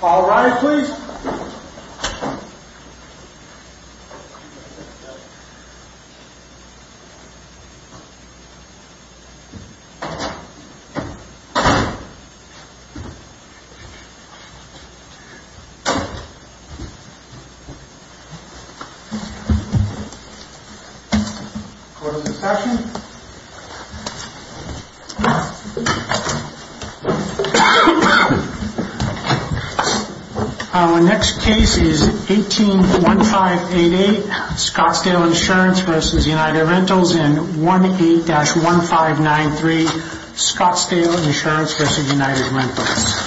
All rise, please. Court is in session. Our next case is 18-1588, Scottsdale Insurance v. United Rentals, and 18-1593, Scottsdale Insurance v. United Rentals.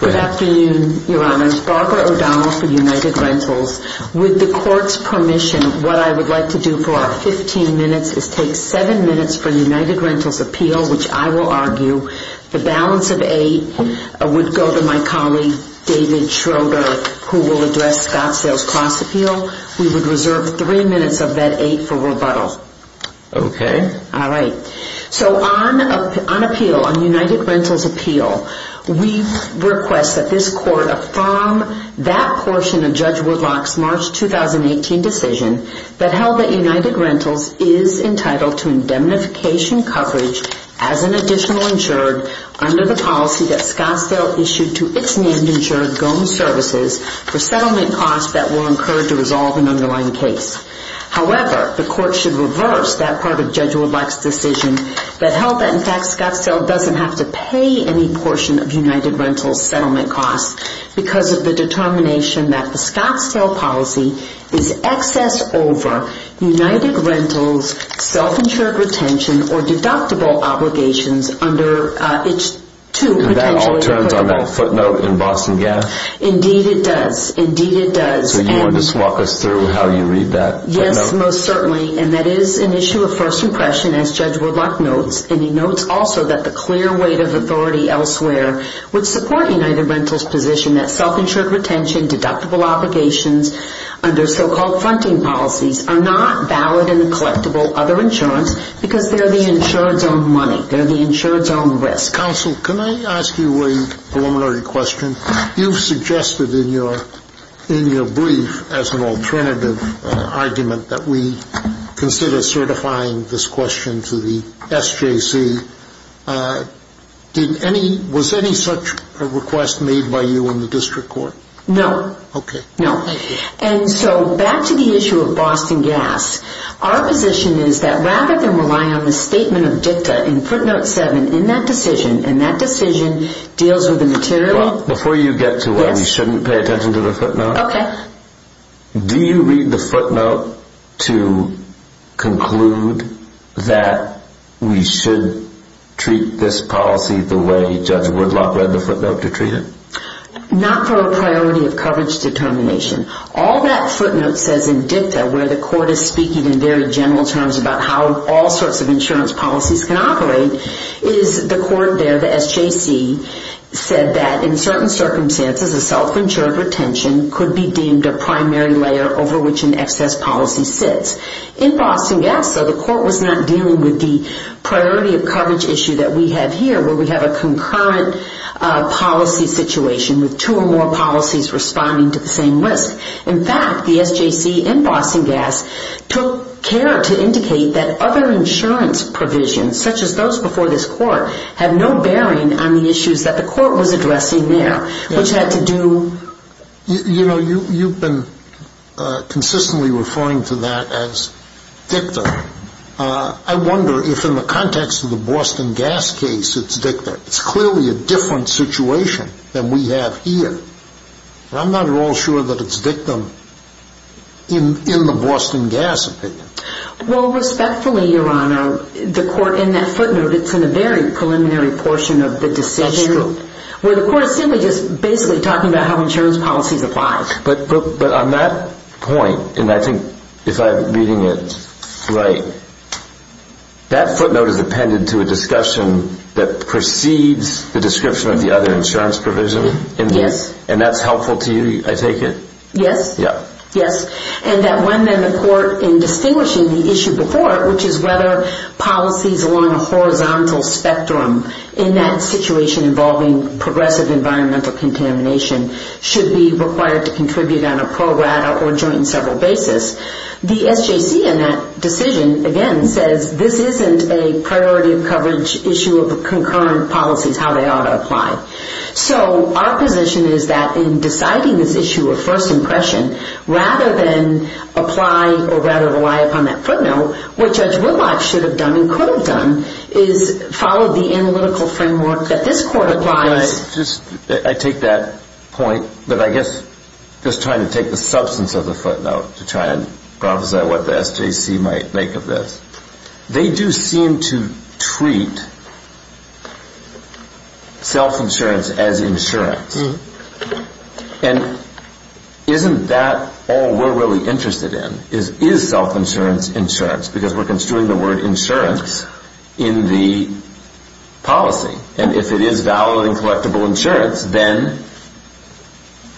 Good afternoon, Your Honors. Barbara O'Donnell for United Rentals. With the Court's permission, what I would like to do for our 15 minutes is take 7 minutes for United Rentals' appeal, which I will argue the balance of 8 would go to my colleague, David Schroeder, who will address Scottsdale's cost appeal. We would reserve 3 minutes of that 8 for rebuttal. Okay. All right. So, on appeal, on United Rentals' appeal, we request that this Court affirm that portion of Judge Woodlock's March 2018 decision that held that United Rentals is entitled to indemnification coverage as an additional insured under the policy that Scottsdale issued to its named insured, Gomes Services, for settlement costs that were incurred to resolve an underlying case. However, the Court should reverse that part of Judge Woodlock's decision that held that, in fact, Scottsdale doesn't have to pay any portion of United Rentals' settlement costs because of the determination that the Scottsdale policy is excess over United Rentals' self-insured retention or deductible obligations under its two potentially- And that all turns on that footnote in Boston Gas? Indeed it does. Indeed it does. So you want to walk us through how you read that footnote? Yes, most certainly. And that is an issue of first impression, as Judge Woodlock notes. And he notes also that the clear weight of authority elsewhere would support United Rentals' position that self-insured retention, deductible obligations under so-called fronting policies are not valid in the collectible other insurance because they're the insured's own money. They're the insured's own risk. Counsel, can I ask you a preliminary question? You've suggested in your brief as an alternative argument that we consider certifying this question to the SJC. Was any such a request made by you in the District Court? No. Okay. No. And so back to the issue of Boston Gas. Our position is that rather than rely on the statement of dicta in footnote 7 in that decision, and that decision deals with the material- Before you get to where we shouldn't pay attention to the footnote- Okay. Do you read the footnote to conclude that we should treat this policy the way Judge Woodlock read the footnote to treat it? Not for a priority of coverage determination. All that footnote says in dicta, where the court is speaking in very general terms about how all sorts of insurance policies can operate, is the court there, the SJC, said that in certain circumstances a self-insured retention could be deemed a primary layer over which an excess policy sits. In Boston Gas, though, the court was not dealing with the priority of coverage issue that we have here, where we have a concurrent policy situation with two or more policies responding to the same risk. In fact, the SJC in Boston Gas took care to indicate that other insurance provisions, such as those before this court, have no bearing on the issues that the court was addressing there, which had to do- You know, you've been consistently referring to that as dicta. I wonder if in the context of the Boston Gas case it's dicta. It's clearly a different situation than we have here. I'm not at all sure that it's dictum in the Boston Gas opinion. Well, respectfully, Your Honor, the court in that footnote, it's in a very preliminary portion of the decision- That's true. Where the court is simply just basically talking about how insurance policies apply. But on that point, and I think if I'm reading it right, that footnote is appended to a discussion that precedes the description of the other insurance provision? Yes. And that's helpful to you, I take it? Yes. Yeah. Yes, and that when then the court, in distinguishing the issue before it, which is whether policies along a horizontal spectrum in that situation involving progressive environmental contamination should be required to contribute on a pro rata or joint and several basis, the SJC in that decision, again, says this isn't a priority coverage issue of the concurrent policies, how they ought to apply. So our position is that in deciding this issue of first impression, rather than apply or rather rely upon that footnote, what Judge Whitlock should have done and could have done is follow the analytical framework that this court applies- But can I just, I take that point, but I guess just trying to take the substance of the footnote to try and prophesy what the SJC might make of this. They do seem to treat self-insurance as insurance. And isn't that all we're really interested in? Is self-insurance insurance? Because we're construing the word insurance in the policy. And if it is valid and collectible insurance, then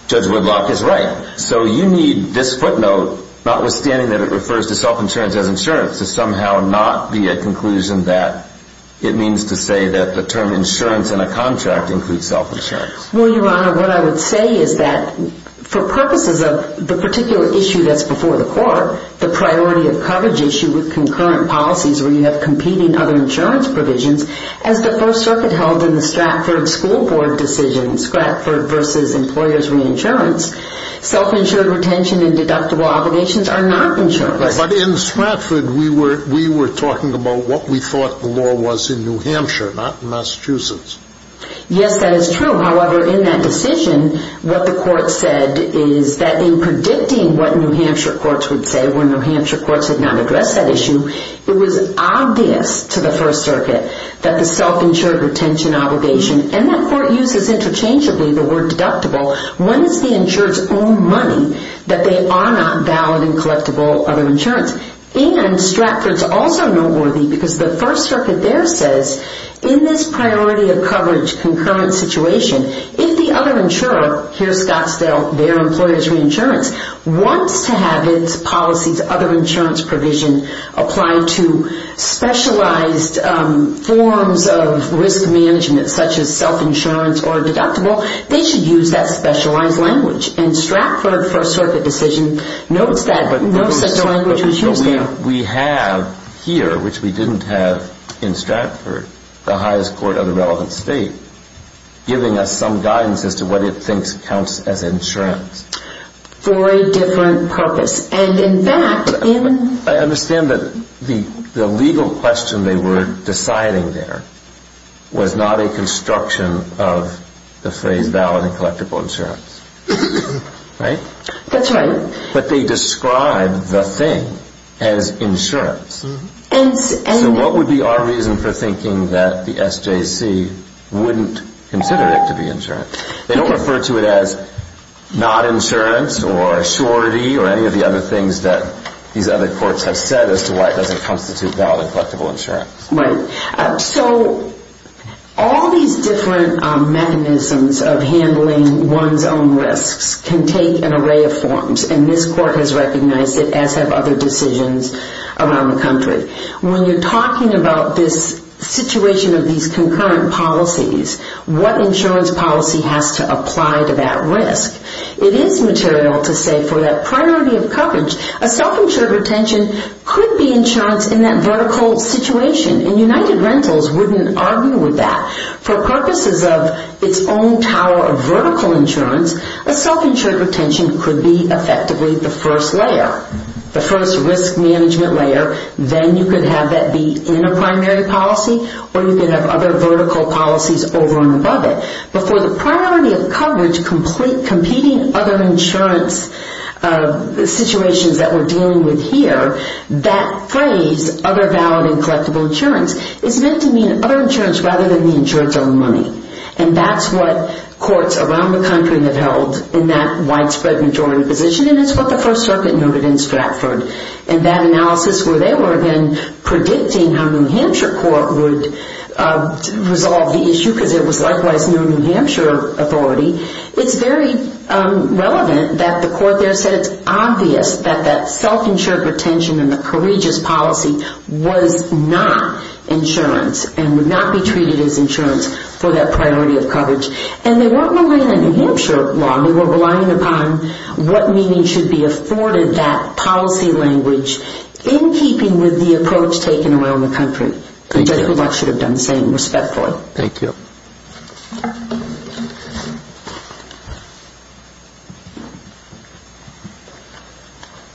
Judge Whitlock is right. So you need this footnote, notwithstanding that it refers to self-insurance as insurance, to somehow not be a conclusion that it means to say that the term insurance in a contract includes self-insurance. Well, Your Honor, what I would say is that for purposes of the particular issue that's before the court, the priority of coverage issue with concurrent policies where you have competing other insurance provisions, as the First Circuit held in the Stratford School Board decision, Stratford v. Employers' Reinsurance, self-insured retention and deductible obligations are not insurance. But in Stratford, we were talking about what we thought the law was in New Hampshire, not in Massachusetts. Yes, that is true. However, in that decision, what the court said is that in predicting what New Hampshire courts would say when New Hampshire courts had not addressed that issue, it was obvious to the First Circuit that the self-insured retention obligation, and that court uses interchangeably the word deductible, when it's the insured's own money, that they are not valid and collectible other insurance. And Stratford's also noteworthy because the First Circuit there says, in this priority of coverage concurrent situation, if the other insurer, here's Scottsdale, their Employers' Reinsurance, wants to have its policies, other insurance provision, applied to specialized forms of risk management, such as self-insurance or deductible, they should use that specialized language. And Stratford First Circuit decision notes that language was used there. But we have here, which we didn't have in Stratford, the highest court of the relevant state, giving us some guidance as to what it thinks counts as insurance. For a different purpose. And in fact, in... I understand that the legal question they were deciding there was not a construction of the phrase valid and collectible insurance. Right? That's right. But they described the thing as insurance. And... So what would be our reason for thinking that the SJC wouldn't consider it to be insurance? They don't refer to it as not insurance or surety or any of the other things that these other courts have said as to why it doesn't constitute valid and collectible insurance. Right. So all these different mechanisms of handling one's own risks can take an array of forms. And this court has recognized it, as have other decisions around the country. When you're talking about this situation of these concurrent policies, what insurance policy has to apply to that risk? It is material to say for that priority of coverage, a self-insured retention could be insurance in that vertical situation. And United Rentals wouldn't argue with that. For purposes of its own tower of vertical insurance, a self-insured retention could be effectively the first layer. The first risk management layer. Then you could have that be in a primary policy or you could have other vertical policies over and above it. But for the priority of coverage competing other insurance situations that we're dealing with here, that phrase, other valid and collectible insurance, is meant to mean other insurance rather than the insurance on money. And that's what courts around the country have held in that widespread majority position. And it's what the First Circuit noted in Stratford. And that analysis where they were then predicting how New Hampshire court would resolve the issue because there was likewise no New Hampshire authority, it's very relevant that the court there said it's obvious that that self-insured retention and the courageous policy was not insurance and would not be treated as insurance for that priority of coverage. And they weren't relying on New Hampshire law. They were relying upon what meaning should be afforded that policy language in keeping with the approach taken around the country. I think everybody should have done the same respectfully. Thank you.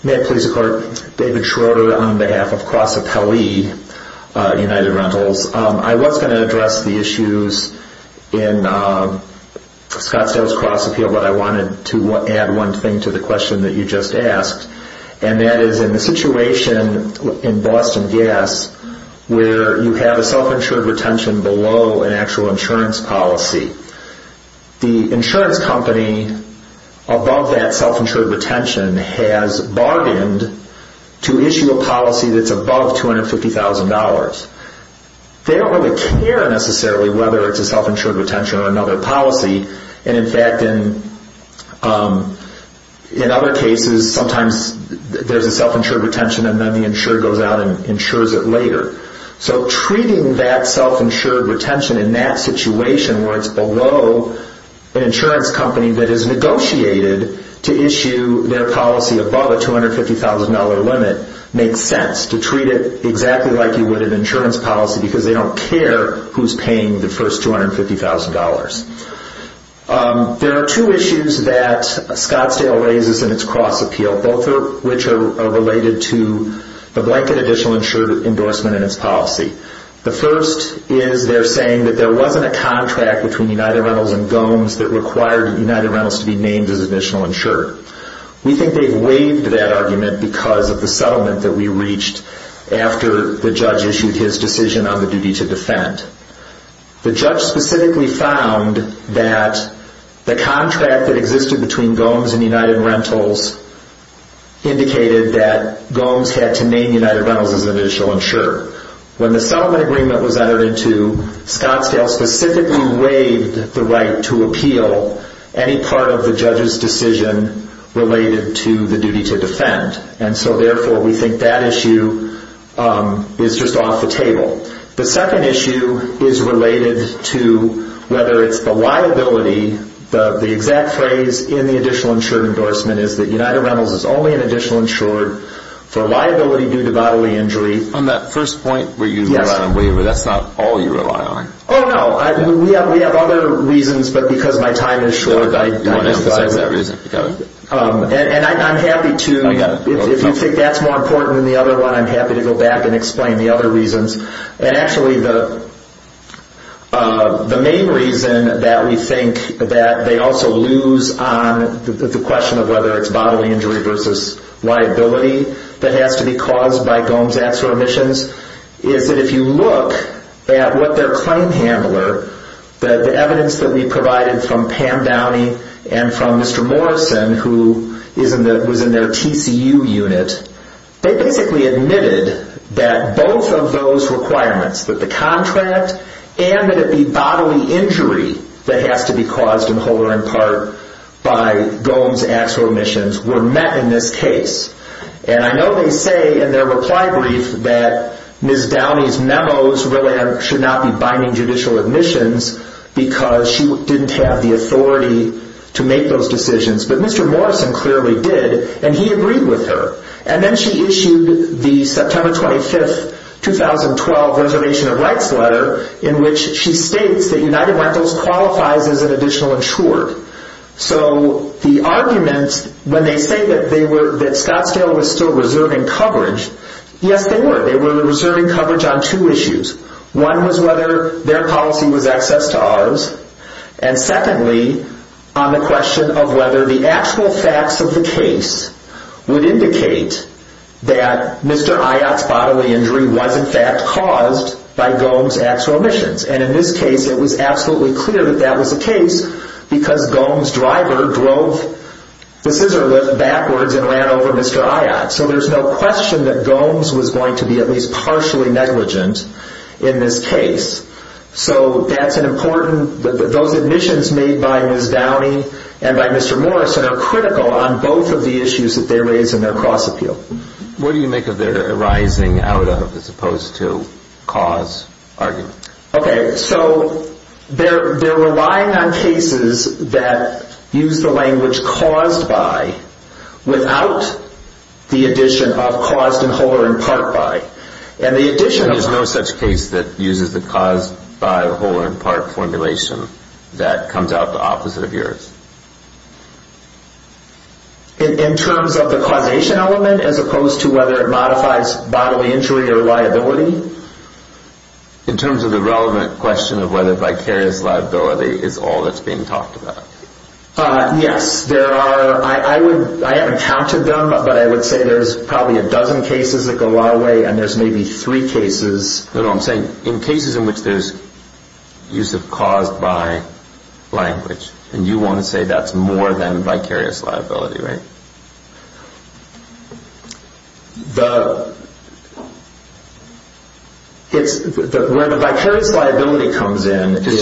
May it please the Court. David Schroeder on behalf of Cross Appellee United Rentals. I was going to address the issues in Scottsdale's cross appeal, but I wanted to add one thing to the question that you just asked. And that is in the situation in Boston Gas where you have a self-insured retention below an actual insurance policy, the insurance company above that self-insured retention has bargained to issue a policy that's above $250,000. They don't really care necessarily whether it's a self-insured retention or another policy. And in fact, in other cases, sometimes there's a self-insured retention and then the insurer goes out and insures it later. So treating that self-insured retention in that situation where it's below an insurance company that has negotiated to issue their policy above a $250,000 limit makes sense to treat it exactly like you would an insurance policy because they don't care who's paying the first $250,000. There are two issues that Scottsdale raises in its cross appeal, both of which are related to the blanket additional insured endorsement in its policy. The first is they're saying that there wasn't a contract between United Rentals and Gomes that required United Rentals to be named as additional insured. We think they've waived that argument because of the settlement that we reached after the judge issued his decision on the duty to defend. The judge specifically found that the contract that existed between Gomes and United Rentals indicated that Gomes had to name United Rentals as additional insured. When the settlement agreement was entered into, Scottsdale specifically waived the right to appeal any part of the judge's decision related to the duty to defend. Therefore, we think that issue is just off the table. The second issue is related to whether it's the liability. The exact phrase in the additional insured endorsement is that United Rentals is only an additional insured for liability due to bodily injury. On that first point where you rely on waiver, that's not all you rely on. Oh, no. We have other reasons, but because my time is short, I don't. You want to emphasize that reason. I'm happy to, if you think that's more important than the other one, I'm happy to go back and explain the other reasons. Actually, the main reason that we think that they also lose on the question of whether it's bodily injury versus liability that has to be caused by Gomes' acts or omissions is that if you look at what their claim handler, the evidence that we provided from Pam Downey and from Mr. Morrison, who was in their TCU unit, they basically admitted that both of those requirements, that the contract and that it be bodily injury that has to be caused in whole or in part by Gomes' acts or omissions were met in this case. I know they say in their reply brief that Ms. Downey's memos really should not be in judicial admissions because she didn't have the authority to make those decisions, but Mr. Morrison clearly did, and he agreed with her. And then she issued the September 25, 2012 Reservation of Rights letter in which she states that United Rentals qualifies as an additional insured. So the arguments, when they say that Scottsdale was still reserving coverage, yes, they were. They were reserving coverage on two issues. One was whether their policy was access to ours, and secondly, on the question of whether the actual facts of the case would indicate that Mr. Ayotte's bodily injury was in fact caused by Gomes' acts or omissions. And in this case, it was absolutely clear that that was the case because Gomes' driver drove the scissor lift backwards and ran over Mr. Ayotte. So there's no question that Gomes was going to be at least partially negligent in this case. So that's an important, those admissions made by Ms. Downey and by Mr. Morrison are critical on both of the issues that they raise in their cross-appeal. What do you make of their arising out of as opposed to cause argument? Okay, so they're relying on cases that use the language caused by without the addition of caused in whole or in part by. There's no such case that uses the caused by whole or in part formulation that comes out the opposite of yours. In terms of the causation element as opposed to whether it modifies bodily injury or liability? In terms of the relevant question of whether vicarious liability is all that's being talked about. Yes, there are. I haven't counted them, but I would say there's probably a dozen cases that go a long way and there's maybe three cases. No, no, I'm saying in cases in which there's use of caused by language and you want to say that's more than vicarious liability, right? The, it's, where the vicarious liability comes in is...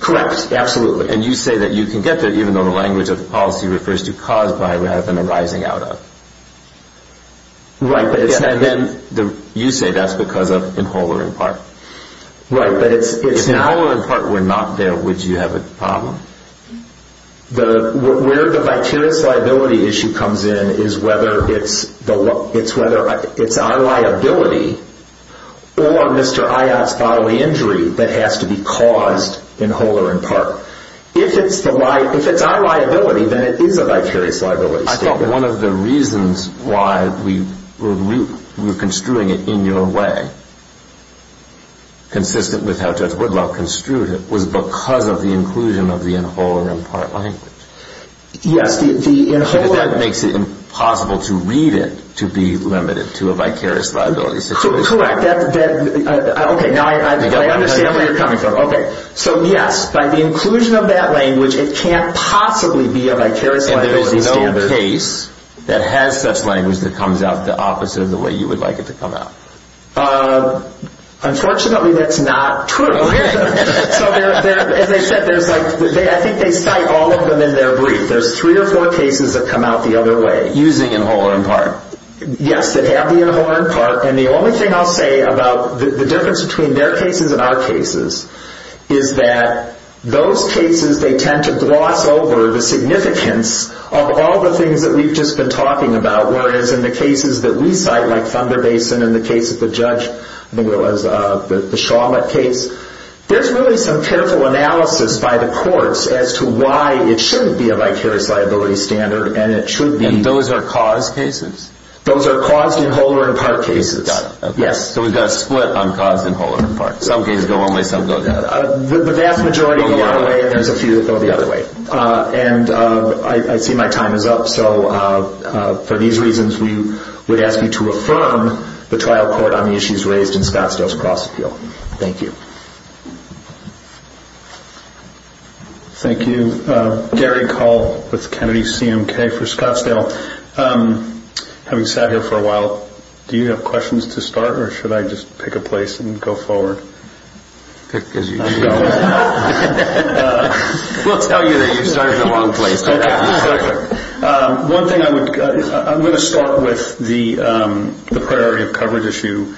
Correct, absolutely. And you say that you can get there even though the language of the policy refers to caused by rather than arising out of. Right, but it's not... And then you say that's because of in whole or in part. Right, but it's not... If in whole or in part were not there, would you have a problem? The, where the vicarious liability issue comes in is whether it's our liability or Mr. Ayotte's bodily injury that has to be caused in whole or in part. If it's our liability, then it is a vicarious liability statement. I thought one of the reasons why we were construing it in your way, consistent with how Judge Woodluff construed it, was because of the inclusion of the in whole or in part language. Yes, the in whole... Correct, that, okay, now I understand where you're coming from. Okay, so yes, by the inclusion of that language, it can't possibly be a vicarious liability standard. And there's no case that has such language that comes out the opposite of the way you would like it to come out. Unfortunately, that's not true. So there, as I said, there's like, I think they cite all of them in their brief. There's three or four cases that come out the other way. Using in whole or in part. Yes, that have the in whole or in part. And the only thing I'll say about the difference between their cases and our cases is that those cases, they tend to gloss over the significance of all the things that we've just been talking about. Whereas in the cases that we cite, like Thunder Basin and the case of the judge, I think it was the Shawmut case, there's really some careful analysis by the courts as to why it shouldn't be a vicarious liability standard and it should be. And those are cause cases? Those are caused in whole or in part cases. Got it. Yes. So we've got a split on caused in whole or in part. Some cases go one way, some go the other. The vast majority go one way and there's a few that go the other way. And I see my time is up. So for these reasons, we would ask you to affirm the trial court on the issues raised in Scottsdale's cross appeal. Thank you. Thank you. Gary Cole with Kennedy CMK for Scottsdale. Having sat here for a while, do you have questions to start or should I just pick a place and go forward? Pick as you go. We'll tell you that you started in the wrong place. Okay. Perfect. One thing I would, I'm going to start with the priority of coverage issue.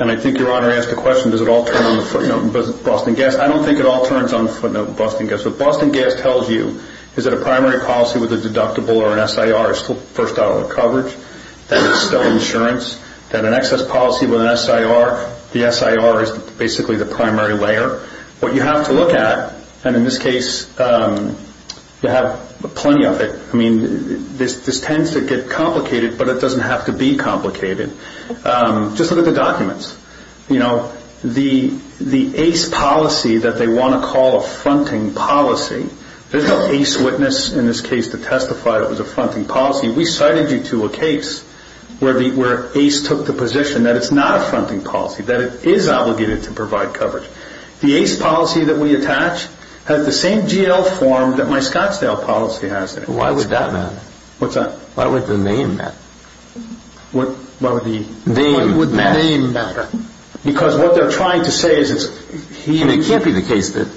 And I think Your Honor asked a question, does it all turn on the footnote in Boston Gas? I don't think it all turns on the footnote in Boston Gas. What Boston Gas tells you is that a primary policy with a deductible or an SIR is still first dollar coverage, that it's still insurance, that an excess policy with an SIR, the SIR is basically the primary layer. What you have to look at, and in this case, you have plenty of it. I mean, this tends to get complicated, but it doesn't have to be complicated. Just look at the documents. You know, the ace policy that they want to call a fronting policy, there's no ace witness in this case to testify it was a fronting policy. We cited you to a case where ace took the position that it's not a fronting policy, that it is obligated to provide coverage. The ace policy that we attach has the same GL form that my Scottsdale policy has there. Why would that matter? What's that? Why would the name matter? What would the name matter? Because what they're trying to say is it's... It can't be the case that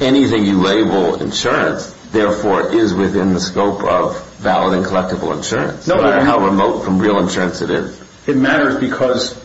anything you label insurance, therefore, is within the scope of valid and collectible insurance. No, Your Honor. No matter how remote from real insurance it is. It matters because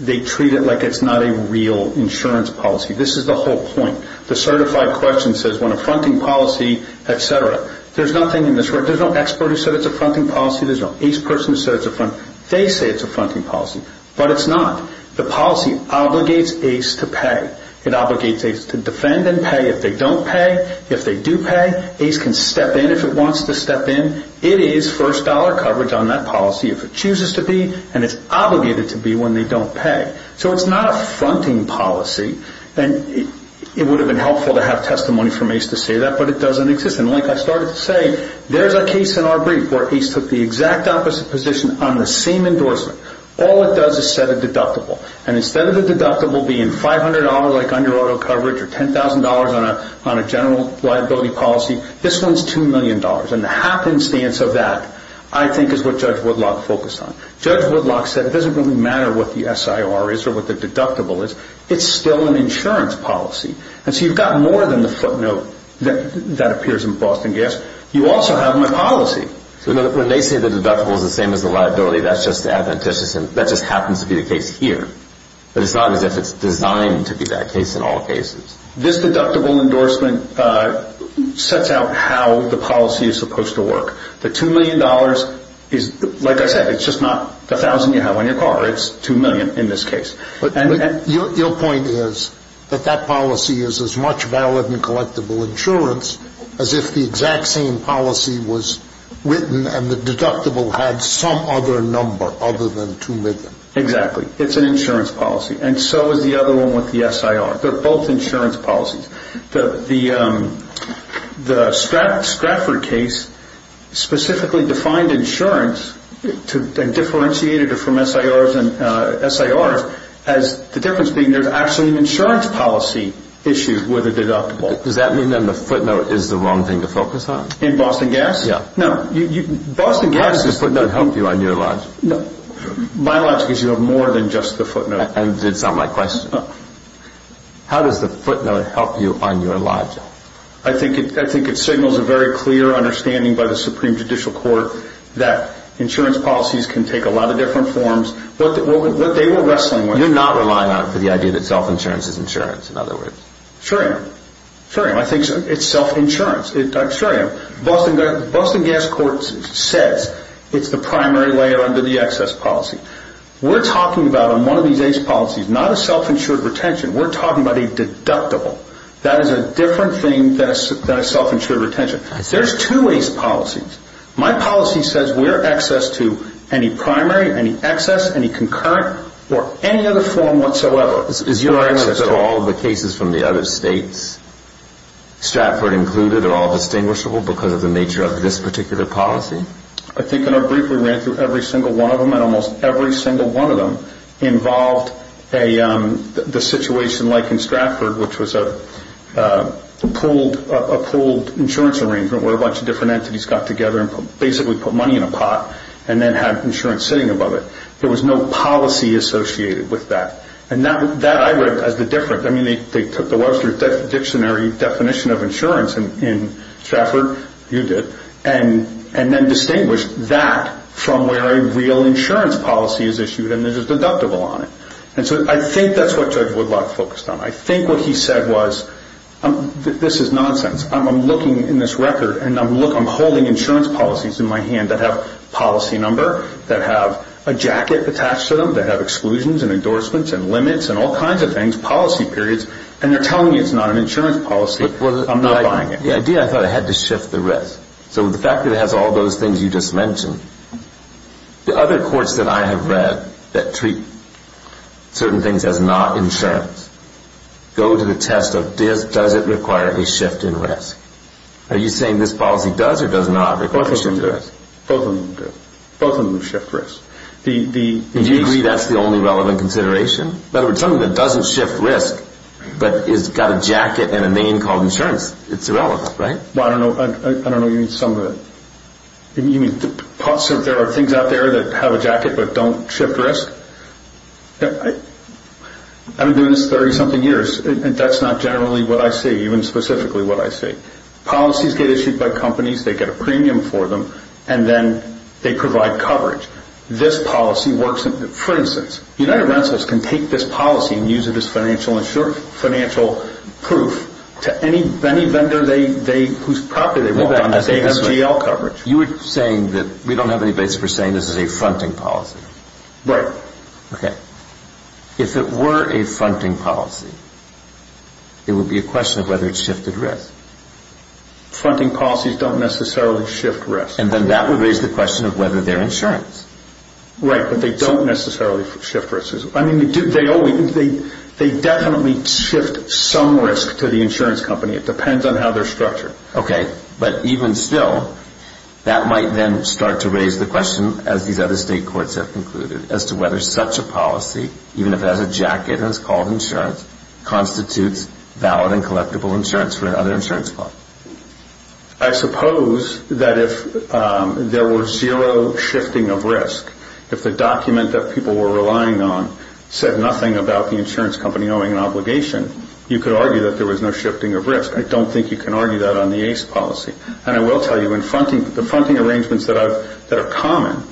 they treat it like it's not a real insurance policy. This is the whole point. The certified question says when a fronting policy, et cetera, there's nothing in this record. There's no expert who said it's a fronting policy. There's no ace person who said it's a fronting policy. They say it's a fronting policy, but it's not. The policy obligates ace to pay. It obligates ace to defend and pay. If they don't pay, if they do pay, ace can step in if it wants to step in. It is first dollar coverage on that policy. If it chooses to be, and it's obligated to be when they don't pay. So it's not a fronting policy. And it would have been helpful to have testimony from ace to say that, but it doesn't exist. And like I started to say, there's a case in our brief where ace took the exact opposite position on the same endorsement. All it does is set a deductible. And instead of the deductible being $500 like under auto coverage or $10,000 on a general liability policy, this one's $2 million. And the happenstance of that I think is what Judge Woodlock focused on. Judge Woodlock said it doesn't really matter what the SIR is or what the deductible is. It's still an insurance policy. And so you've got more than the footnote that appears in Boston Gas. You also have my policy. When they say the deductible is the same as the liability, that's just adventitious. That just happens to be the case here. But it's not as if it's designed to be that case in all cases. This deductible endorsement sets out how the policy is supposed to work. The $2 million is, like I said, it's just not the thousand you have on your car. It's $2 million in this case. But your point is that that policy is as much valid and collectible insurance as if the exact same policy was written and the deductible had some other number other than $2 million. Exactly. It's an insurance policy. And so is the other one with the SIR. They're both insurance policies. The Stratford case specifically defined insurance and differentiated it from SIRs as the difference being there's actually an insurance policy issue with a deductible. Does that mean then the footnote is the wrong thing to focus on? In Boston Gas? Yeah. Why does the footnote help you on your logic? My logic is you have more than just the footnote. That's not my question. How does the footnote help you on your logic? I think it signals a very clear understanding by the Supreme Judicial Court that insurance policies can take a lot of different forms. What they were wrestling with. You're not relying on it for the idea that self-insurance is insurance, in other words. Sure am. Sure am. I think it's self-insurance. Sure am. Boston Gas Court says it's the primary layer under the excess policy. We're talking about in one of these ACE policies not a self-insured retention. We're talking about a deductible. That is a different thing than a self-insured retention. There's two ACE policies. My policy says we're excess to any primary, any excess, any concurrent, or any other form whatsoever. Is your access to all the cases from the other states, Stratford included, are all distinguishable because of the nature of this particular policy? I think in our brief we ran through every single one of them, and almost every single one of them involved the situation like in Stratford, which was a pooled insurance arrangement where a bunch of different entities got together and basically put money in a pot and then had insurance sitting above it. There was no policy associated with that. That I read as the difference. They took the Webster Dictionary definition of insurance in Stratford, you did, and then distinguished that from where a real insurance policy is issued and there's a deductible on it. I think that's what Judge Woodlock focused on. I think what he said was this is nonsense. I'm looking in this record and I'm holding insurance policies in my hand that have policy number, that have a jacket attached to them, that have exclusions and endorsements and limits and all kinds of things, policy periods, and they're telling me it's not an insurance policy. I'm not buying it. The idea, I thought, I had to shift the risk. So with the fact that it has all those things you just mentioned, the other courts that I have read that treat certain things as not insurance go to the test of does it require a shift in risk. Are you saying this policy does or does not require a shift in risk? Both of them do. Both of them shift risk. Do you agree that's the only relevant consideration? In other words, something that doesn't shift risk but has got a jacket and a name called insurance, it's irrelevant, right? I don't know you mean some of it. You mean there are things out there that have a jacket but don't shift risk? I've been doing this 30-something years, and that's not generally what I see, even specifically what I see. Policies get issued by companies, they get a premium for them, and then they provide coverage. For instance, United Rentalists can take this policy and use it as financial proof to any vendor whose property they want on this AMGL coverage. You were saying that we don't have any basis for saying this is a fronting policy. Right. If it were a fronting policy, it would be a question of whether it shifted risk. Fronting policies don't necessarily shift risk. And then that would raise the question of whether they're insurance. Right, but they don't necessarily shift risk. I mean, they definitely shift some risk to the insurance company. It depends on how they're structured. Okay, but even still, that might then start to raise the question, as these other state courts have concluded, as to whether such a policy, even if it has a jacket and is called insurance, constitutes valid and collectible insurance for another insurance claim. I suppose that if there were zero shifting of risk, if the document that people were relying on said nothing about the insurance company owing an obligation, you could argue that there was no shifting of risk. I don't think you can argue that on the ACE policy. And I will tell you, the fronting arrangements that are common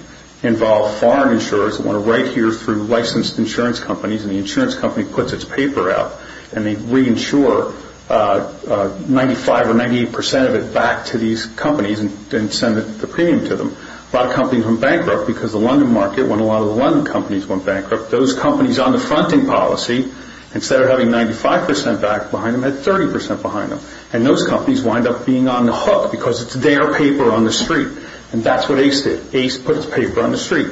involve foreign insurers that want to write here through licensed insurance companies, and the insurance company puts its paper out, and they reinsure 95% or 98% of it back to these companies and send the premium to them. A lot of companies went bankrupt because the London market, when a lot of the London companies went bankrupt, those companies on the fronting policy, instead of having 95% back behind them, had 30% behind them. And those companies wind up being on the hook because it's their paper on the street. And that's what ACE did. ACE put its paper on the street.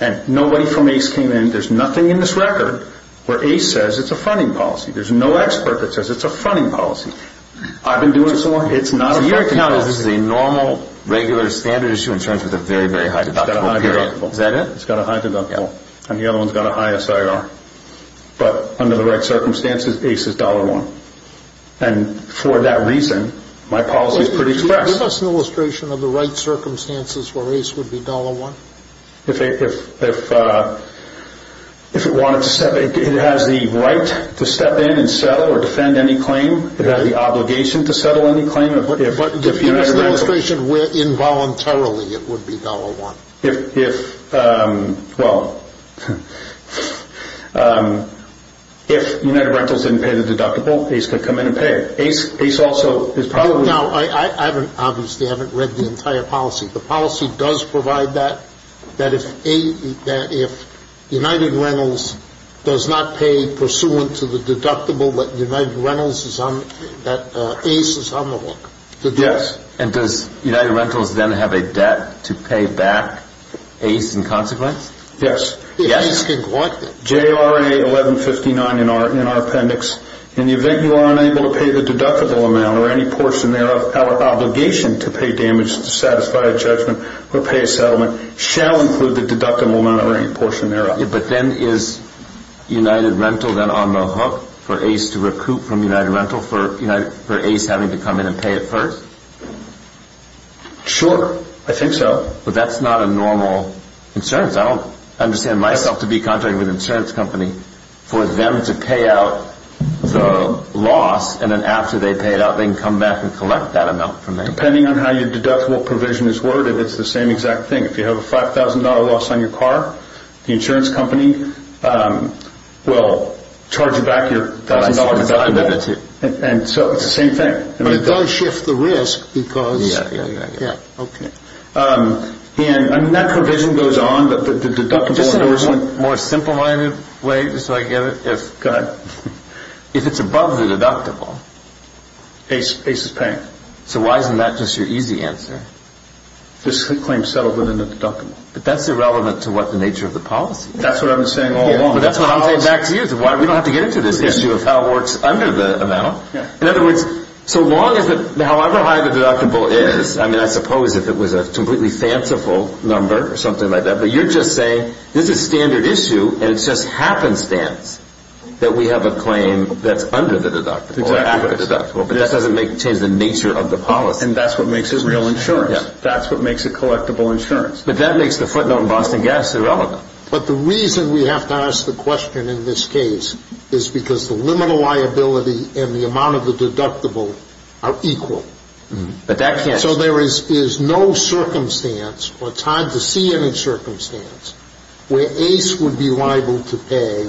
And nobody from ACE came in. There's nothing in this record where ACE says it's a fronting policy. There's no expert that says it's a fronting policy. I've been doing it so long. It's not a fronting policy. So your account is this is a normal, regular, standard issue insurance with a very, very high deductible period? It's got a high deductible. Is that it? It's got a high deductible. And the other one's got a high SIR. But under the right circumstances, ACE is $1. And for that reason, my policy is pretty express. Give us an illustration of the right circumstances where ACE would be $1. If it wanted to step in. It has the right to step in and settle or defend any claim. It has the obligation to settle any claim. Give us an illustration where involuntarily it would be $1. If, well, if United Rentals didn't pay the deductible, ACE could come in and pay. Now, I obviously haven't read the entire policy. The policy does provide that if United Rentals does not pay pursuant to the deductible, that ACE is on the hook. Yes. And does United Rentals then have a debt to pay back ACE in consequence? Yes. ACE can collect it. JRA 1159 in our appendix. In the event you are unable to pay the deductible amount or any portion thereof, our obligation to pay damage to satisfy a judgment or pay a settlement shall include the deductible amount or any portion thereof. But then is United Rental then on the hook for ACE to recoup from United Rental for ACE having to come in and pay it first? Sure. I think so. But that's not a normal insurance. I don't understand myself to be contracting with an insurance company for them to pay out the loss and then after they pay it out, they can come back and collect that amount from me. Depending on how your deductible provision is worded, it's the same exact thing. If you have a $5,000 loss on your car, the insurance company will charge you back your $1,000 deductible. And so it's the same thing. But it does shift the risk because... Yes. Okay. And that provision goes on, but the deductible... Just in a more simple-minded way, just so I get it, if... If it's above the deductible... ACE is paying. So why isn't that just your easy answer? This claim is settled within the deductible. But that's irrelevant to what the nature of the policy is. That's what I've been saying all along. But that's what I'm saying back to you. We don't have to get into this issue of how it works under the amount. In other words, so long as however high the deductible is, I mean, I suppose if it was a completely fanciful number or something like that, but you're just saying this is a standard issue and it's just happenstance that we have a claim that's under the deductible, or after the deductible, but that doesn't change the nature of the policy. And that's what makes it real insurance. That's what makes it collectible insurance. But that makes the footnote in Boston Gas irrelevant. But the reason we have to ask the question in this case is because the limited liability and the amount of the deductible are equal. So there is no circumstance or time to see any circumstance where Ace would be liable to pay,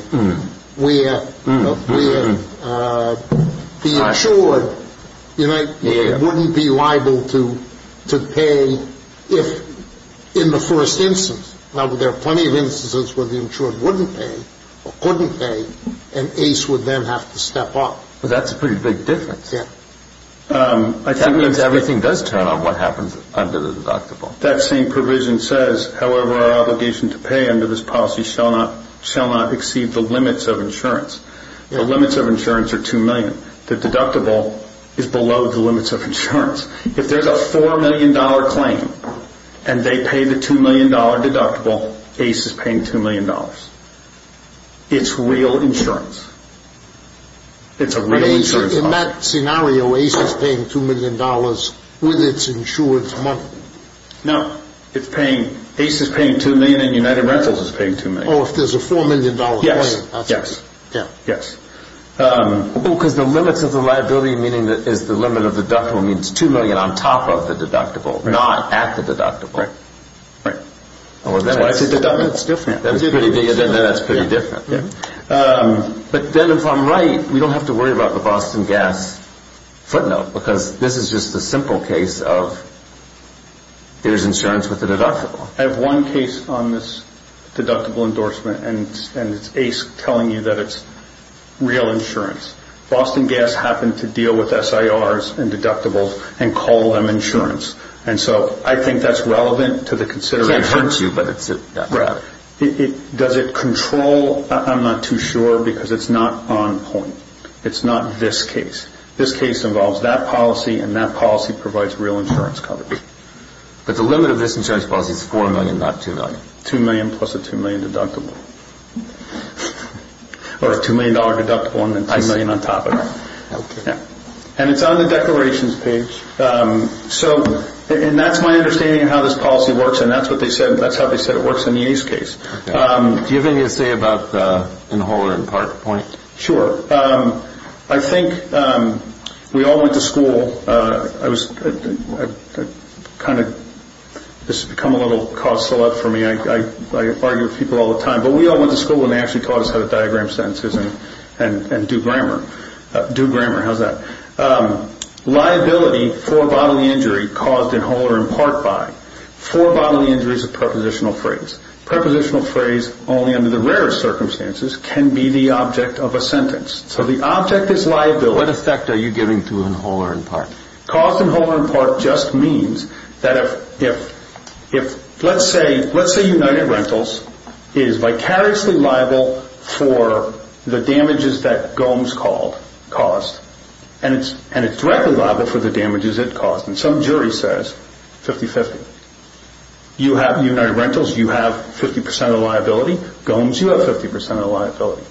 where the insured wouldn't be liable to pay in the first instance. Now, there are plenty of instances where the insured wouldn't pay or couldn't pay and Ace would then have to step up. That's a pretty big difference. That means everything does turn on what happens under the deductible. That same provision says, however, our obligation to pay under this policy shall not exceed the limits of insurance. The limits of insurance are $2 million. The deductible is below the limits of insurance. If there's a $4 million claim and they pay the $2 million deductible, Ace is paying $2 million. It's real insurance. It's a real insurance policy. In that scenario, Ace is paying $2 million with its insurance monthly. No. Ace is paying $2 million and United Rentals is paying $2 million. Oh, if there's a $4 million claim. Yes. Yes. Yes. Because the limits of the liability is the limit of the deductible means $2 million on top of the deductible, not at the deductible. Right. Right. That's why it's a deductible. That's different. That's pretty different. But then if I'm right, we don't have to worry about the Boston Gas footnote because this is just a simple case of there's insurance with the deductible. I have one case on this deductible endorsement and it's Ace telling you that it's real insurance. Boston Gas happened to deal with SIRs and deductibles and call them insurance. And so I think that's relevant to the consideration. It hurts you, but it's rather. Does it control? I'm not too sure because it's not on point. It's not this case. This case involves that policy and that policy provides real insurance coverage. But the limit of this insurance policy is $4 million, not $2 million. $2 million plus a $2 million deductible. Or a $2 million deductible and then $2 million on top of it. I see. Okay. And it's on the declarations page. And that's my understanding of how this policy works. And that's what they said. That's how they said it works in the Ace case. Do you have anything to say in the whole or in part of the point? Sure. I think we all went to school. This has become a little causal for me. I argue with people all the time. But we all went to school and they actually taught us how to diagram sentences and do grammar. Do grammar. How's that? Liability for bodily injury caused in whole or in part by. For bodily injury is a prepositional phrase. Prepositional phrase only under the rarest circumstances can be the object of a sentence. So the object is liability. What effect are you giving to in whole or in part? Caused in whole or in part just means that if, let's say, United Rentals is vicariously liable for the damages that Gomes caused. And it's directly liable for the damages it caused. And some jury says 50-50. You have United Rentals, you have 50% of the liability. Gomes, you have 50% of the liability.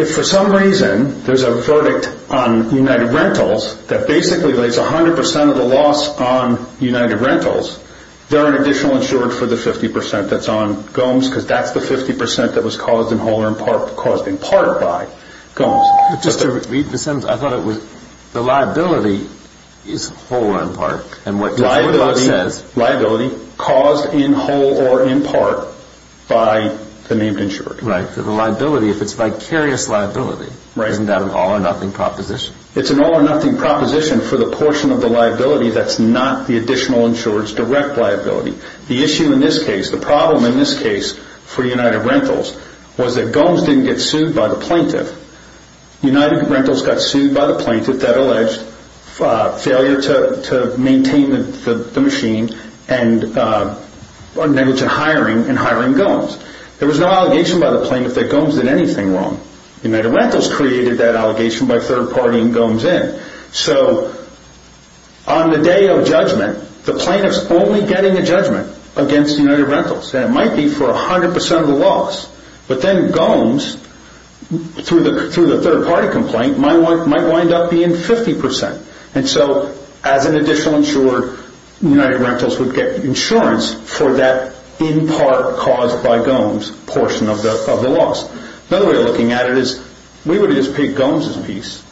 If for some reason there's a verdict on United Rentals that basically relates 100% of the loss on United Rentals, they're an additional insurer for the 50% that's on Gomes because that's the 50% that was caused in whole or in part caused in part by Gomes. Just to read the sentence, I thought it was the liability is whole or in part. Liability caused in whole or in part by the named insured. Right. So the liability, if it's vicarious liability, isn't that an all-or-nothing proposition? It's an all-or-nothing proposition for the portion of the liability that's not the additional insured's direct liability. The issue in this case, the problem in this case for United Rentals, was that Gomes didn't get sued by the plaintiff. United Rentals got sued by the plaintiff that alleged failure to maintain the machine and negligent hiring in hiring Gomes. There was no allegation by the plaintiff that Gomes did anything wrong. United Rentals created that allegation by third-partying Gomes in. So on the day of judgment, the plaintiff's only getting a judgment against United Rentals. It might be for 100% of the loss, but then Gomes, through the third-party complaint, might wind up being 50%. So as an additional insurer, United Rentals would get insurance for that in part caused by Gomes portion of the loss. Another way of looking at it is we would have just paid Gomes' piece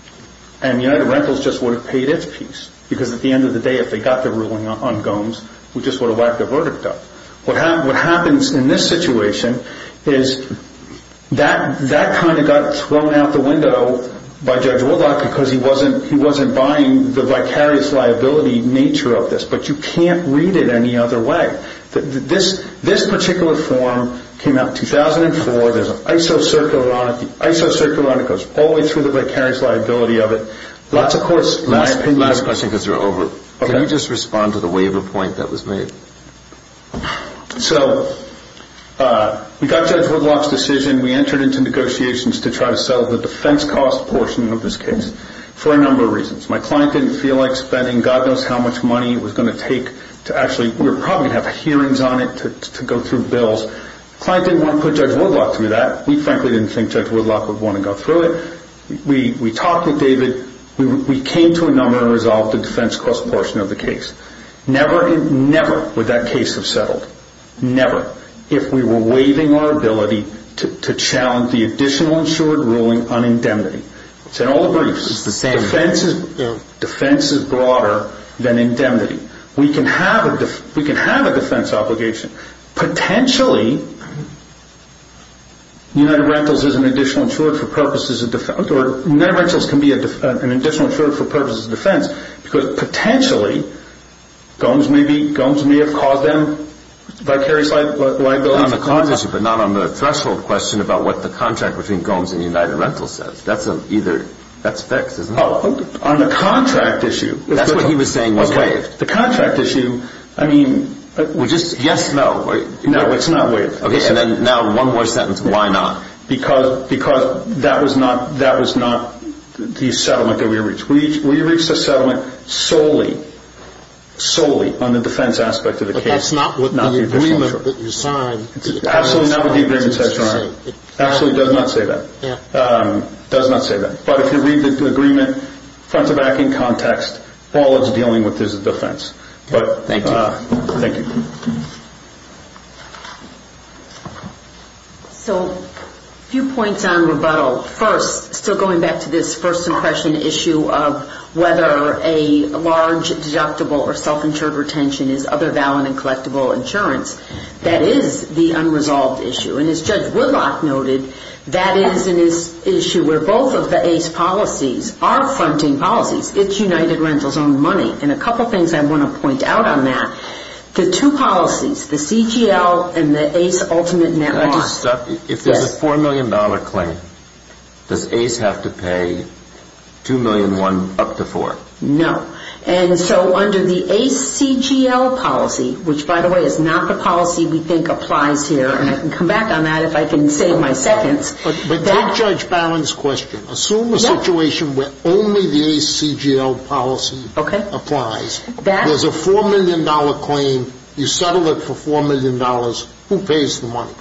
and United Rentals just would have paid its piece. Because at the end of the day, if they got the ruling on Gomes, we just would have whacked the verdict up. What happens in this situation is that kind of got thrown out the window by Judge Woodlock because he wasn't buying the vicarious liability nature of this. But you can't read it any other way. This particular form came out in 2004. There's an ISO circular on it. The ISO circular on it goes all the way through the vicarious liability of it. Last question because we're over. Can you just respond to the waiver point that was made? So we got Judge Woodlock's decision. We entered into negotiations to try to settle the defense cost portion of this case for a number of reasons. My client didn't feel like spending God knows how much money it was going to take to actually we were probably going to have hearings on it to go through bills. The client didn't want to put Judge Woodlock through that. We frankly didn't think Judge Woodlock would want to go through it. We talked with David. We came to a number and resolved the defense cost portion of the case. Never would that case have settled. Never. If we were waiving our ability to challenge the additional insured ruling on indemnity. It's in all the briefs. Defense is broader than indemnity. We can have a defense obligation. Potentially, United Rentals is an additional insured for purposes of defense. United Rentals can be an additional insured for purposes of defense. Potentially, Gomes may have caused them vicarious liability. Not on the cost issue but not on the threshold question about what the contract between Gomes and United Rentals says. That's fixed, isn't it? On the contract issue. That's what he was saying was waived. The contract issue. Yes, no. No, it's not waived. Now, one more sentence. Why not? Because that was not the settlement that we reached. We reached a settlement solely on the defense aspect of the case. That's not what the agreement that you signed. Absolutely not what the agreement says, Your Honor. Absolutely does not say that. Does not say that. But if you read the agreement front to back in context, all it's dealing with is the defense. Thank you. Thank you. So a few points on rebuttal. First, still going back to this first impression issue of whether a large deductible or self-insured retention is other valid and collectible insurance. That is the unresolved issue. And as Judge Woodlock noted, that is an issue where both of the ACE policies are fronting policies. It's United Rentals' own money. And a couple things I want to point out on that. The two policies, the CGL and the ACE Ultimate Network. If there's a $4 million claim, does ACE have to pay $2.1 million up to $4 million? No. And so under the ACE CGL policy, which, by the way, is not the policy we think applies here, and I can come back on that if I can save my seconds. But take Judge Barron's question. Assume a situation where only the ACE CGL policy applies. There's a $4 million claim. You settle it for $4 million. Who pays the money?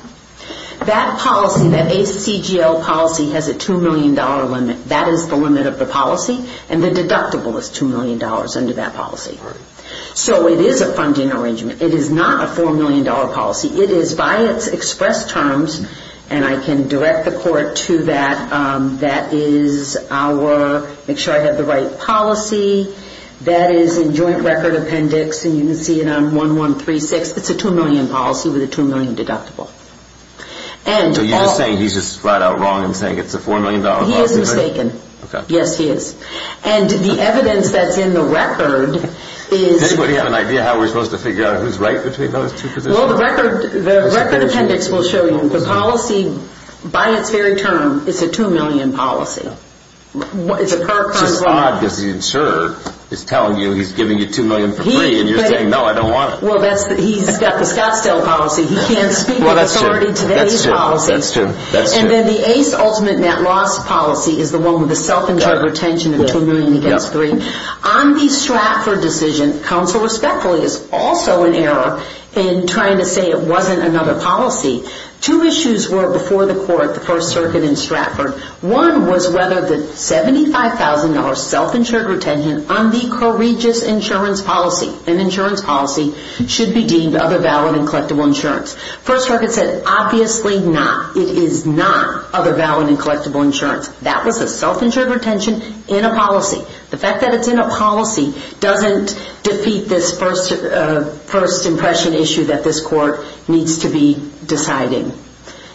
That policy, that ACE CGL policy, has a $2 million limit. That is the limit of the policy. And the deductible is $2 million under that policy. So it is a funding arrangement. It is not a $4 million policy. It is, by its express terms, and I can direct the court to that, that is our make sure I have the right policy. That is in joint record appendix, and you can see it on 1136. It's a $2 million policy with a $2 million deductible. So you're just saying he's just flat out wrong in saying it's a $4 million policy? He is mistaken. Okay. Yes, he is. And the evidence that's in the record is... Does anybody have an idea how we're supposed to figure out who's right between those two positions? Well, the record appendix will show you. The policy, by its very term, is a $2 million policy. It's a current law. It's just odd because the insurer is telling you he's giving you $2 million for free, and you're saying, no, I don't want it. Well, he's got the Scottsdale policy. He can't speak to the authority today's policy. That's true. And then the ACE ultimate net loss policy is the one with the self-insured retention of $2 million against $3. On the Stratford decision, counsel respectfully is also in error in trying to say it wasn't another policy. Two issues were before the court, the First Circuit in Stratford. One was whether the $75,000 self-insured retention on the coercious insurance policy, an insurance policy, should be deemed other valid and collectible insurance. First Circuit said, obviously not. It is not other valid and collectible insurance. That was a self-insured retention in a policy. The fact that it's in a policy doesn't defeat this first impression issue that this court needs to be deciding.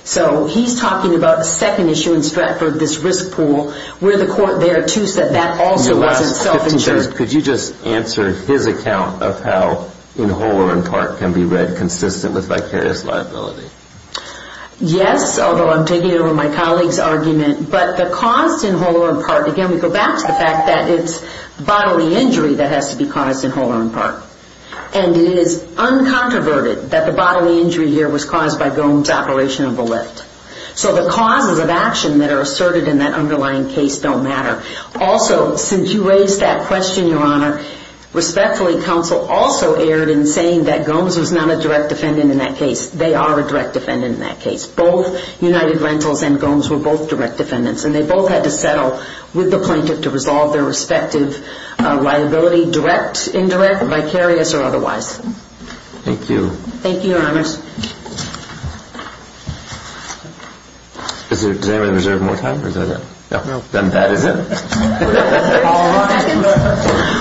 So he's talking about a second issue in Stratford, this risk pool, where the court there, too, said that also wasn't self-insured. Could you just answer his account of how in whole or in part can be read consistent with vicarious liability? Yes, although I'm taking over my colleague's argument. But the cost in whole or in part, again, we go back to the fact that it's bodily injury that has to be caused in whole or in part. And it is uncontroverted that the bodily injury here was caused by Gomes' operation of the lift. So the causes of action that are asserted in that underlying case don't matter. Also, since you raised that question, Your Honor, respectfully, counsel also erred in saying that Gomes was not a direct defendant in that case. They are a direct defendant in that case. Both United Rentals and Gomes were both direct defendants. And they both had to settle with the plaintiff to resolve their respective liability, direct, indirect, vicarious, or otherwise. Thank you. Thank you, Your Honor. Does anybody reserve more time? No. Then that is it.